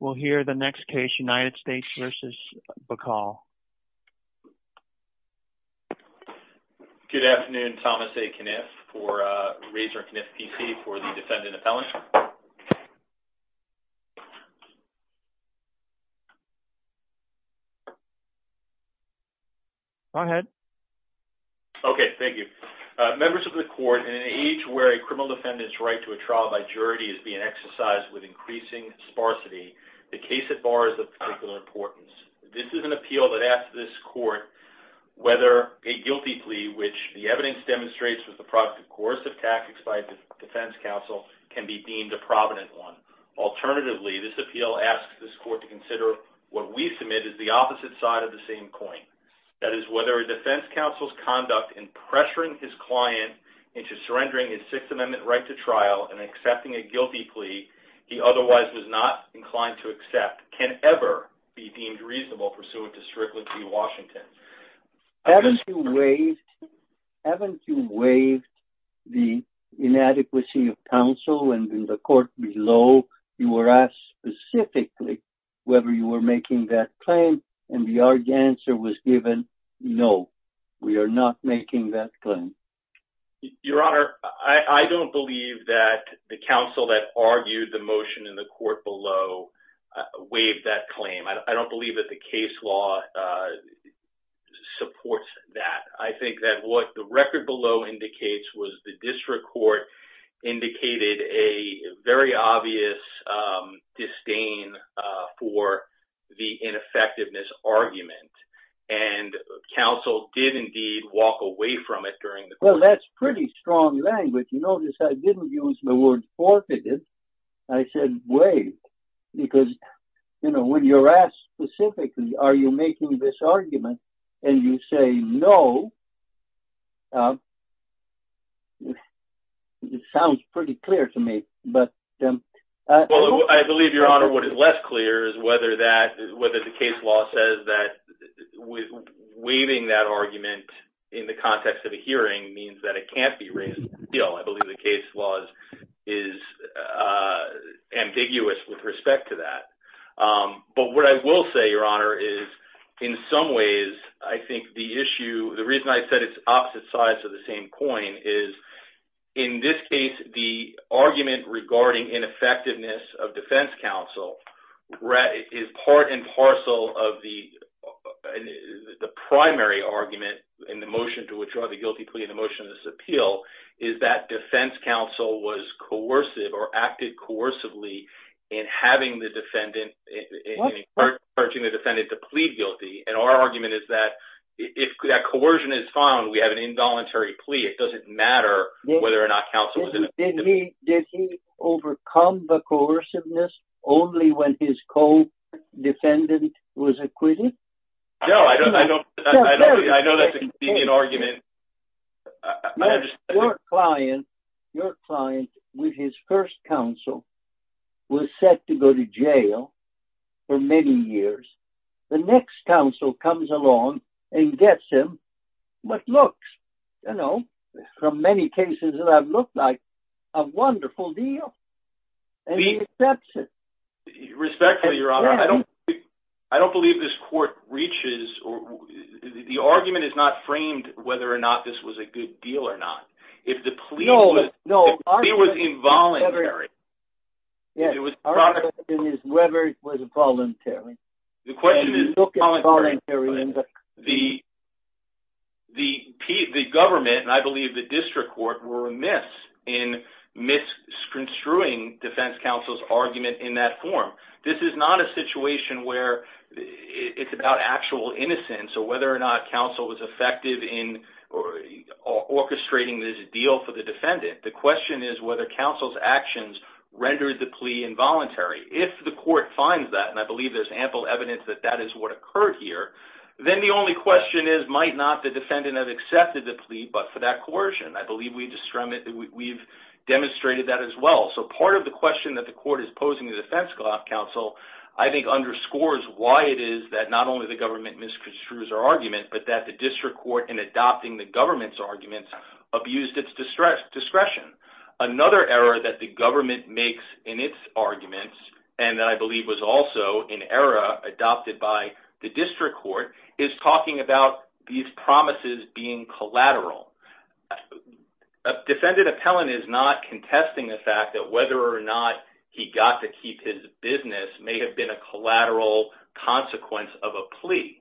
Good afternoon, Thomas A. Kniff for Razor & Kniff PC for the defendant appellant. Go ahead. Okay, thank you. Members of the court, in an age where a criminal defendant's right to a trial by jury is being exercised with increasing sparsity, the case at bar is of particular importance. This is an appeal that asks this court whether a guilty plea, which the evidence demonstrates was the product of coercive tactics by a defense counsel, can be deemed a provident one. Alternatively, this appeal asks this court to consider what we submit is the opposite side of the same coin. That is, whether a defense counsel's conduct in pressuring his client into surrendering his Sixth Amendment right to trial and accepting a guilty plea he otherwise was not inclined to accept can ever be deemed reasonable pursuant to Strickland v. Washington. Haven't you waived the inadequacy of counsel in the court below? You were asked specifically whether you were making that claim, and the answer was given, no, we are not making that claim. Your Honor, I don't believe that the counsel that argued the motion in the court below waived that claim. I don't believe that the case law supports that. I think that what the record below indicates was the district court indicated a very obvious disdain for the ineffectiveness argument, and counsel did indeed walk away from it during the process. It sounds pretty clear to me. I believe, Your Honor, what is less clear is whether the case law says that waiving that argument in the context of a hearing means that it can't be raised. I believe the case law is ambiguous with respect to that. But what I will say, Your Honor, is in some ways I think the issue, the reason I said it's opposite sides of the same coin is in this case the argument regarding ineffectiveness of defense counsel is part and parcel of the primary argument in the motion to withdraw the guilty plea in the motion of this appeal is that defense counsel was coercive or acted coercively in having the defendant and encouraging the defendant to plead guilty, and our argument is that if that coercion is found, we have an involuntary plea. It doesn't matter whether or not counsel... Did he overcome the coerciveness only when his co-defendant was acquitted? No, I know that's a convenient argument. Your client with his first counsel was set to go to jail for many years. The next counsel comes along and gets him what looks, you know, from many cases that have looked like a wonderful deal, and he accepts it. Respectfully, Your Honor, I don't believe this court reaches, the argument is not framed whether or not this was a good deal or not. If the plea was involuntary... Our question is whether it was involuntary. The government, and I believe the district court, were remiss in misconstruing defense counsel's argument in that form. This is not a situation where it's about actual innocence or whether or not counsel was effective in orchestrating this deal for the defendant. The question is whether counsel's actions rendered the plea involuntary. If the court finds that, and I believe there's ample evidence that that is what occurred here, then the only question is might not the defendant have accepted the plea but for that coercion. I believe we've demonstrated that as well. Part of the question that the court is posing to defense counsel I think underscores why it is that not only the government misconstrues our argument but that the district court in adopting the government's arguments abused its discretion. Another error that the government makes in its arguments, and that I believe was also an error adopted by the district court, is talking about these promises being collateral. A defendant appellant is not contesting the fact that whether or not he got to keep his business may have been a collateral consequence of a plea.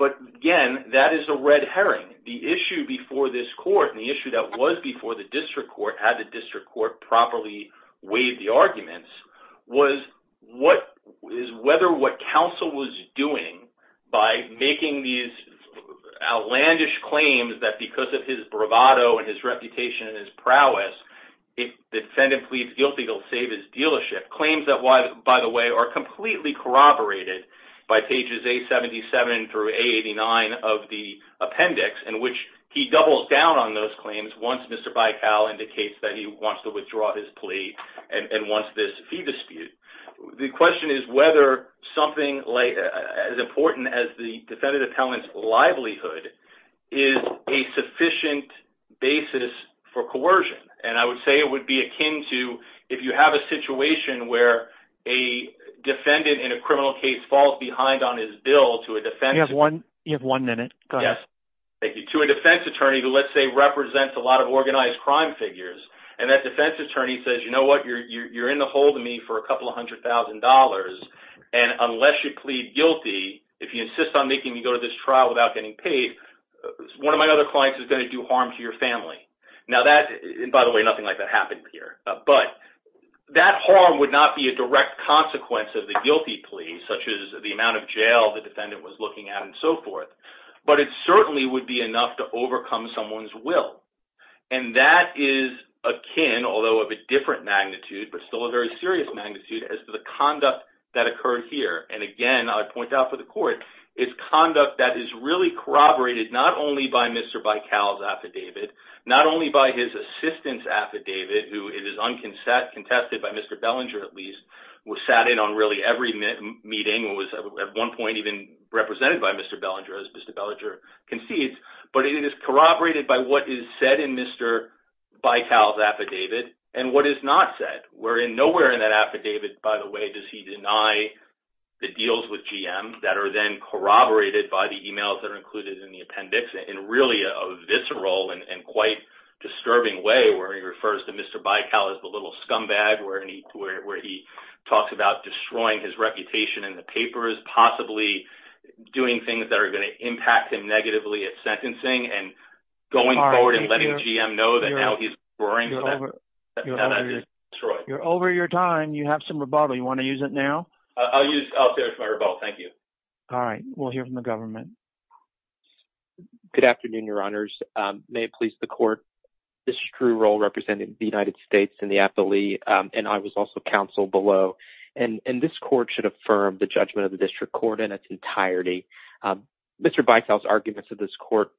Again, that is a red herring. The issue before this court and the issue that was before the district court, had the district court properly weighed the arguments, was whether what counsel was doing by making these outlandish claims that because of his bravado and his reputation and his prowess, if the defendant pleads guilty he'll save his dealership. Claims that, by the way, are completely corroborated by pages 877 through 889 of the appendix in which he doubles down on those claims once Mr. Bicall indicates that he wants to withdraw his plea and wants this fee dispute. The question is whether something as important as the defendant appellant's livelihood is a sufficient basis for coercion, and I would say it would be akin to if you have a situation where a defendant in a criminal case falls behind on his bill to a defense attorney who, let's say, represents a lot of organized crime figures, and that defense attorney says, you know what, you're in the hold of me for a couple of hundred thousand dollars, and unless you plead guilty, if you insist on making me go to this trial without getting paid, one of my other clients is going to do harm to your family. Now that, by the way, nothing like that happened here, but that harm would not be a direct consequence of the guilty plea, such as the amount of jail the defendant was looking at and so forth, but it certainly would be enough to overcome someone's will, and that is akin, although of a different magnitude, but still a very serious magnitude as to the conduct that occurred here, and again, I point out for the court, it's conduct that is really corroborated not only by Mr. Bicall's affidavit, not only by his assistant's affidavit, who it is uncontested by Mr. Bellinger, at least, who sat in on really every meeting and was at one point even represented by Mr. Bellinger, as Mr. Bellinger concedes, but it is corroborated by what is said in Mr. Bicall's affidavit and what is not said. Nowhere in that affidavit, by the way, does he deny the deals with GM that are then corroborated by the emails that are included in the appendix in really a visceral and quite disturbing way where he refers to Mr. Bicall as the little scumbag, where he talks about destroying his reputation in the papers, possibly doing things that are going to impact him negatively at sentencing and going forward and letting GM know that now he's going to destroy it. You're over your time. You have some rebuttal. You want to use it now? I'll use my rebuttal. Thank you. All right. We'll hear from the government. Good afternoon, your honors. May it please the court. This is true role representing the United States in the appellee, and I was also counsel below, and this court should affirm the judgment of the district court in its entirety. Mr. Bicall's arguments of this court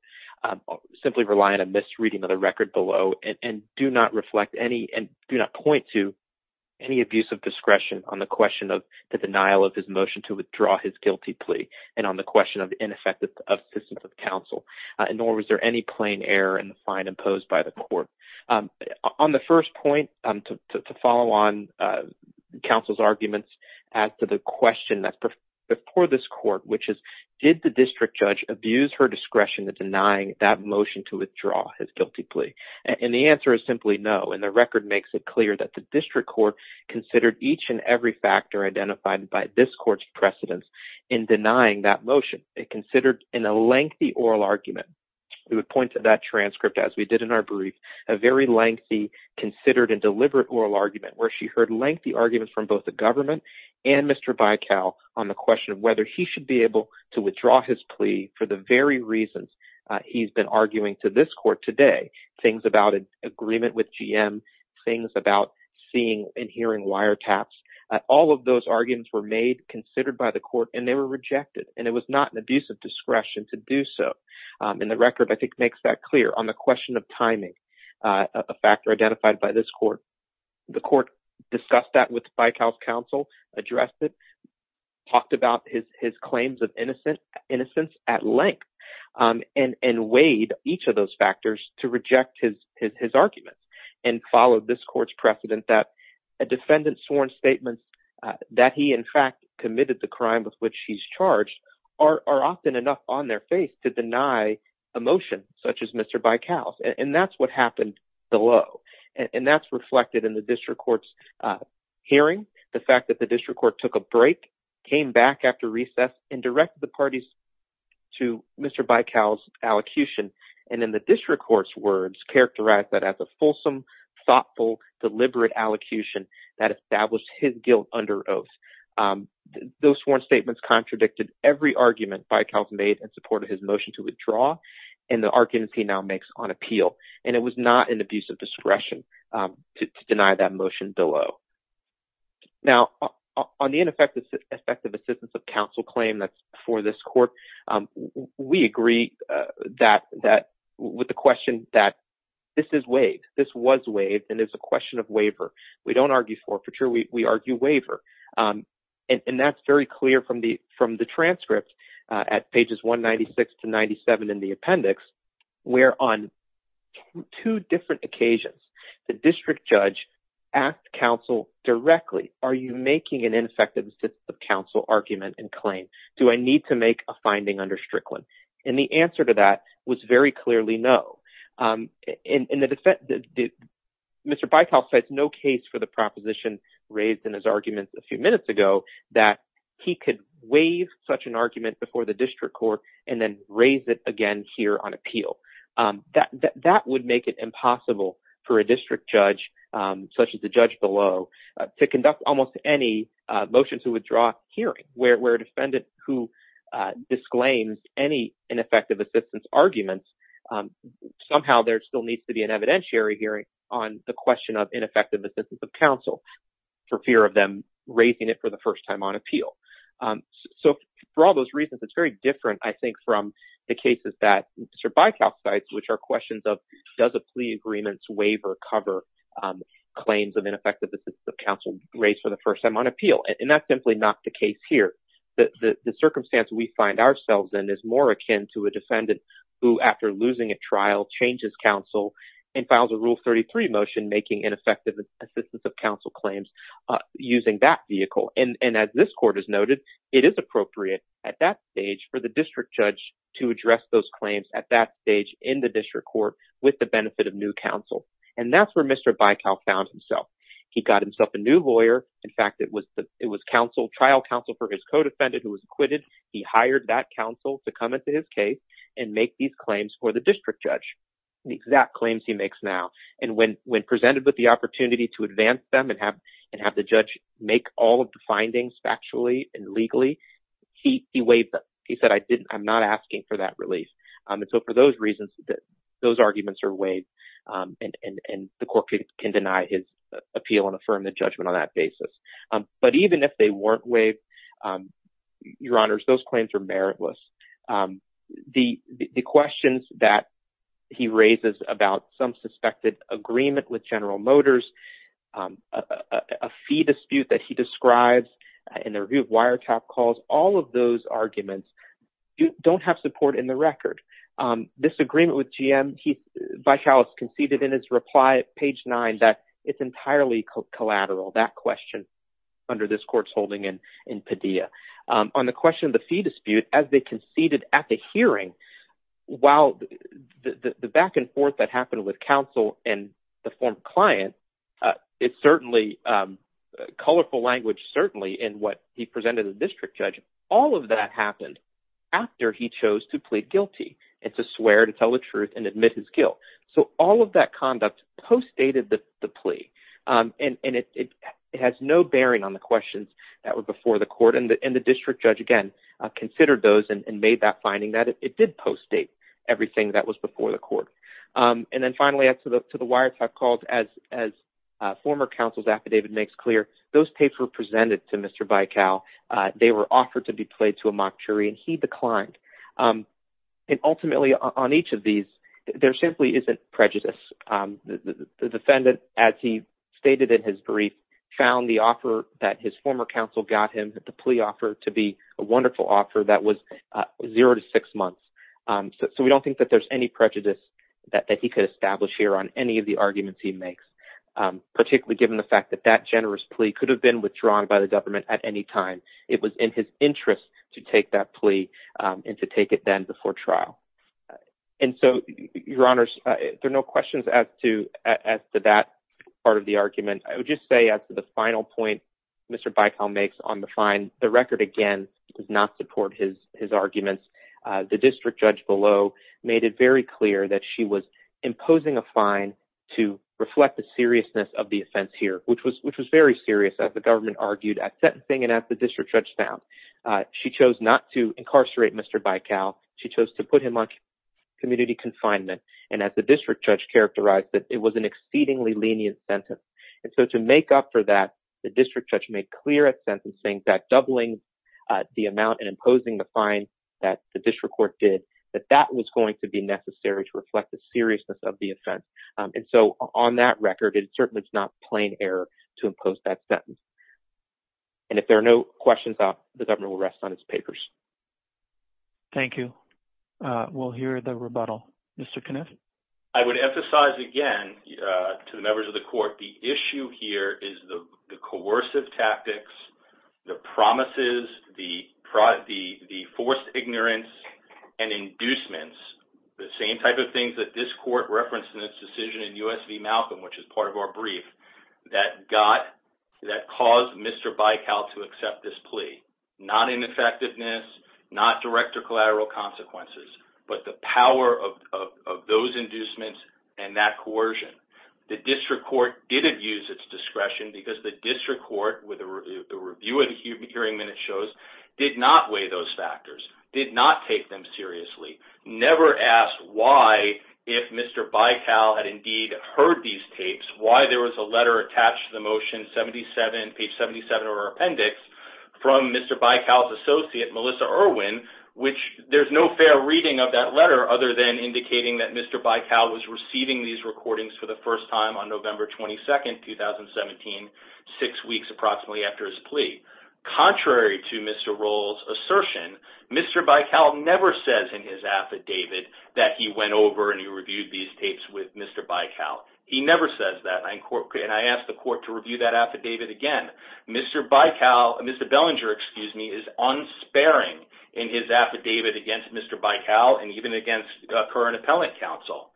simply rely on a misreading of the record below and do not reflect any and do not point to any abuse of discretion on the question of the denial of his motion to withdraw his guilty plea and on the question of ineffective assistance of counsel. Nor was there any plain error in the fine imposed by the court. On the first point, to follow on counsel's arguments as to the question that's before this court, which is, did the district judge abuse her discretion in denying that motion to withdraw his guilty plea? And the answer is simply no, and the record makes it clear that the district court considered each and every factor identified by this court's precedence in denying that motion. It considered in a lengthy oral argument, it would point to that transcript as we did in our brief, a very lengthy, considered and deliberate oral argument where she heard lengthy arguments from both the government and Mr. Bicall on the question of whether he should be able to withdraw his plea for the very reasons he's been arguing to this court today. Things about agreement with GM, things about seeing and hearing wiretaps. All of those arguments were made, considered by the court, and they were rejected and it was not an abuse of discretion to do so. And the record, I think, makes that clear on the question of timing, a factor identified by this court. The court discussed that with Bicall's counsel, addressed it, talked about his claims of innocence at length, and weighed each of those factors to reject his arguments and followed this court's precedent that a defendant's sworn statements that he in fact committed the crime with which he's charged are often enough on their face to deny a motion such as Mr. Bicall's. And that's what happened below. And that's reflected in the district court's hearing, the fact that the district court took a break, came back after recess, and directed the parties to Mr. Bicall's allocution. And in the district court's words, characterized that as a fulsome, thoughtful, deliberate allocution that established his guilt under oath. Those sworn statements contradicted every argument Bicall's made in support of his motion to withdraw, and the arguments he now makes on appeal. And it was not an abuse of discretion to deny that motion below. Now, on the ineffective assistance of counsel claim that's before this court, we agree with the question that this is waived, this was waived, and it's a question of waiver. We don't argue forfeiture, we argue waiver. And that's very clear from the transcript at pages 196 to 97 in the appendix, where on two different occasions, the district judge asked counsel directly, are you making an ineffective assistance of counsel argument and claim? Do I need to make a finding under Strickland? And the answer to that was very clearly no. Mr. Bicall says no case for the proposition raised in his arguments a few minutes ago that he could waive such an argument before the district court and then raise it again here on appeal. That would make it impossible for a district judge, such as the judge below, to conduct almost any motion to withdraw hearing, where a defendant who disclaims any ineffective assistance arguments, somehow there still needs to be an evidentiary hearing on the question of ineffective assistance of counsel for fear of them raising it for the first time on appeal. So for all those reasons, it's very different, I think, from the cases that Mr. Bicall cites, which are questions of does a plea agreement's waiver cover claims of ineffective assistance of counsel raised for the first time on appeal? And that's simply not the case here. The circumstance we find ourselves in is more akin to a defendant who, after losing a trial, changes counsel and files a Rule 33 motion making ineffective assistance of counsel claims using that vehicle. And as this court has noted, it is appropriate at that stage for the district judge to address those claims at that stage in the district court with the benefit of new counsel. And that's where Mr. Bicall found himself. He got himself a new lawyer. In fact, it was trial counsel for his co-defendant who was acquitted. He hired that counsel to come into his case and make these claims for the district judge, the exact claims he makes now. And when presented with the opportunity to advance them and have the judge make all of the findings factually and legally, he waived them. He said, I'm not asking for that relief. And so for those reasons, those arguments are waived, and the court can deny his appeal and affirm the judgment on that basis. But even if they weren't waived, Your Honors, those claims are meritless. The questions that he raises about some suspected agreement with General Motors, a fee dispute that he describes in the review of wiretap calls, all of those arguments don't have support in the record. Disagreement with GM, Bicall conceded in his reply at page 9 that it's entirely collateral, that question under this court's holding in Padilla. On the question of the fee dispute, as they conceded at the hearing, while the back and forth that happened with counsel and the former client, it's certainly colorful language certainly in what he presented to the district judge. And all of that happened after he chose to plead guilty and to swear to tell the truth and admit his guilt. So all of that conduct postdated the plea. And it has no bearing on the questions that were before the court, and the district judge, again, considered those and made that finding that it did postdate everything that was before the court. And then finally, to the wiretap calls, as former counsel's affidavit makes clear, those tapes were presented to Mr. Bicall. They were offered to be played to a mock jury, and he declined. And ultimately, on each of these, there simply isn't prejudice. The defendant, as he stated in his brief, found the offer that his former counsel got him, the plea offer, to be a wonderful offer that was zero to six months. So we don't think that there's any prejudice that he could establish here on any of the arguments he makes, particularly given the fact that that generous plea could have been withdrawn by the government at any time. It was in his interest to take that plea and to take it then before trial. And so, your honors, there are no questions as to that part of the argument. I would just say, as to the final point Mr. Bicall makes on the fine, the record, again, does not support his arguments. The district judge below made it very clear that she was imposing a fine to reflect the seriousness of the offense here, which was very serious, as the government argued. That sentencing, as the district judge found, she chose not to incarcerate Mr. Bicall. She chose to put him on community confinement. And as the district judge characterized it, it was an exceedingly lenient sentence. And so to make up for that, the district judge made clear at sentencing that doubling the amount and imposing the fine that the district court did, that that was going to be necessary to reflect the seriousness of the offense. And so on that record, it certainly is not plain error to impose that sentence. And if there are no questions, the government will rest on its papers. Thank you. We'll hear the rebuttal. Mr. Kniff? I would emphasize, again, to the members of the court, the issue here is the coercive tactics, the promises, the forced ignorance, and inducements, the same type of things that this court referenced in its decision in U.S. v. Malcolm, which is part of our brief, that caused Mr. Bicall to accept this plea. Not ineffectiveness, not direct or collateral consequences, but the power of those inducements and that coercion. The district court did abuse its discretion because the district court, with the review of the hearing minutes shows, did not weigh those factors, did not take them seriously, never asked why, if Mr. Bicall had indeed heard these tapes, why there was a letter attached to the motion, page 77 of our appendix, from Mr. Bicall's associate, Melissa Irwin, which there's no fair reading of that letter other than indicating that Mr. Bicall was receiving these recordings for the first time on November 22nd, 2017, six weeks approximately after his plea. Contrary to Mr. Roll's assertion, Mr. Bicall never says in his affidavit that he went over and he reviewed these tapes with Mr. Bicall. He never says that, and I ask the court to review that affidavit again. Mr. Bicall, Mr. Bellinger, excuse me, is unsparing in his affidavit against Mr. Bicall and even against current appellate counsel.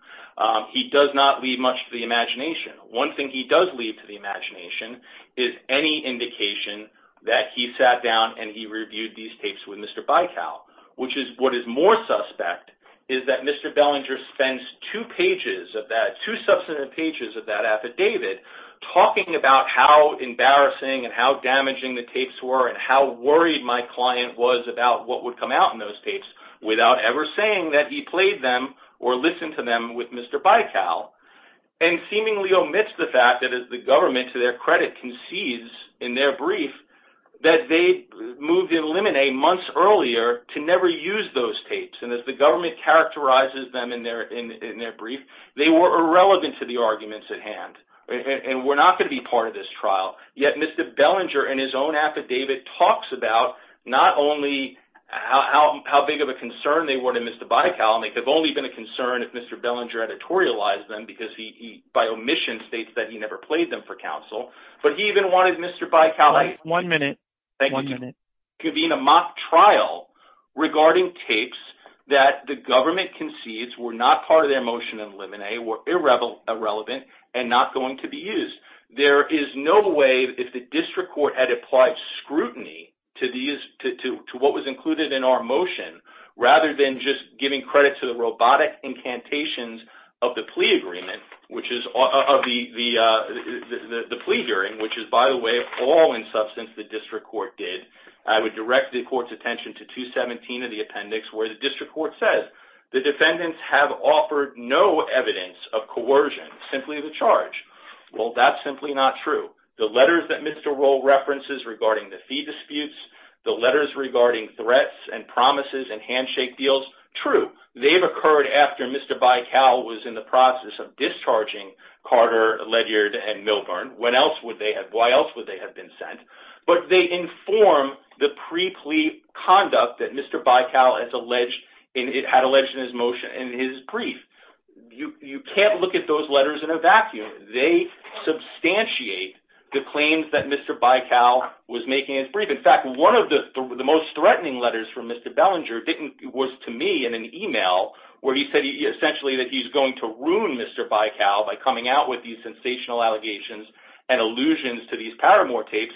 He does not leave much to the imagination. One thing he does leave to the imagination is any indication that he sat down and he reviewed these tapes with Mr. Bicall, which is what is more suspect is that Mr. Bellinger spends two pages of that, two substantive pages of that affidavit, talking about how embarrassing and how damaging the tapes were and how worried my client was about what would come out in those tapes without ever saying that he played them or listened to them at all. Mr. Bellinger does not leave much to the imagination. One thing he does leave to the imagination is any indication that he sat down and he reviewed these tapes with Mr. Bicall, and seemingly omits the fact that as the government, to their credit, concedes in their brief that they moved in limine months earlier to never use those tapes, and as the government characterizes them in their brief, they were irrelevant to the arguments at hand and were not going to be part of this trial. Yet Mr. Bellinger in his own affidavit talks about not only how big of a concern they were to Mr. Bicall, and they have only been a concern if Mr. Bellinger editorialized them because he, by omission, states that he never played them for counsel, but he even wanted Mr. Bicall to convene a mock trial regarding tapes that the government concedes were not part of their motion in limine, were irrelevant, and not going to be used. There is no way, if the district court had applied scrutiny to what was included in our motion, rather than just giving credit to the robotic incantations of the plea hearing, which is, by the way, all in substance the district court did, I would direct the court's attention to 217 of the appendix where the district court says, the defendants have offered no evidence of coercion, simply the charge. That's simply not true. The letters that Mr. Rohl references regarding the fee disputes, the letters regarding threats and promises and handshake deals, true, they've occurred after Mr. Bicall was in the process of discharging Carter, Ledyard, and Milburn. Why else would they have been sent? But they inform the pre-plea conduct that Mr. Bicall had alleged in his brief. You can't look at those letters in a vacuum. They substantiate the claims that Mr. Bicall was making in his brief. In fact, one of the most threatening letters from Mr. Bellinger was to me in an email where he said essentially that he's going to ruin Mr. Bicall by coming out with these sensational allegations and allusions to these paramore tapes.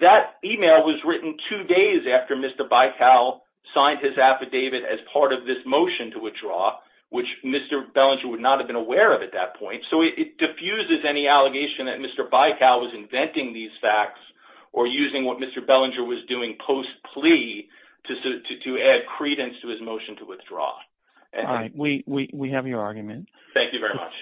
That email was written two days after Mr. Bicall signed his affidavit as part of this motion to withdraw, which Mr. Bellinger would not have been aware of at that point. So it diffuses any allegation that Mr. Bicall was inventing these facts or using what Mr. Bellinger was doing post-plea to add credence to his motion to withdraw. We have your argument. Thank you very much.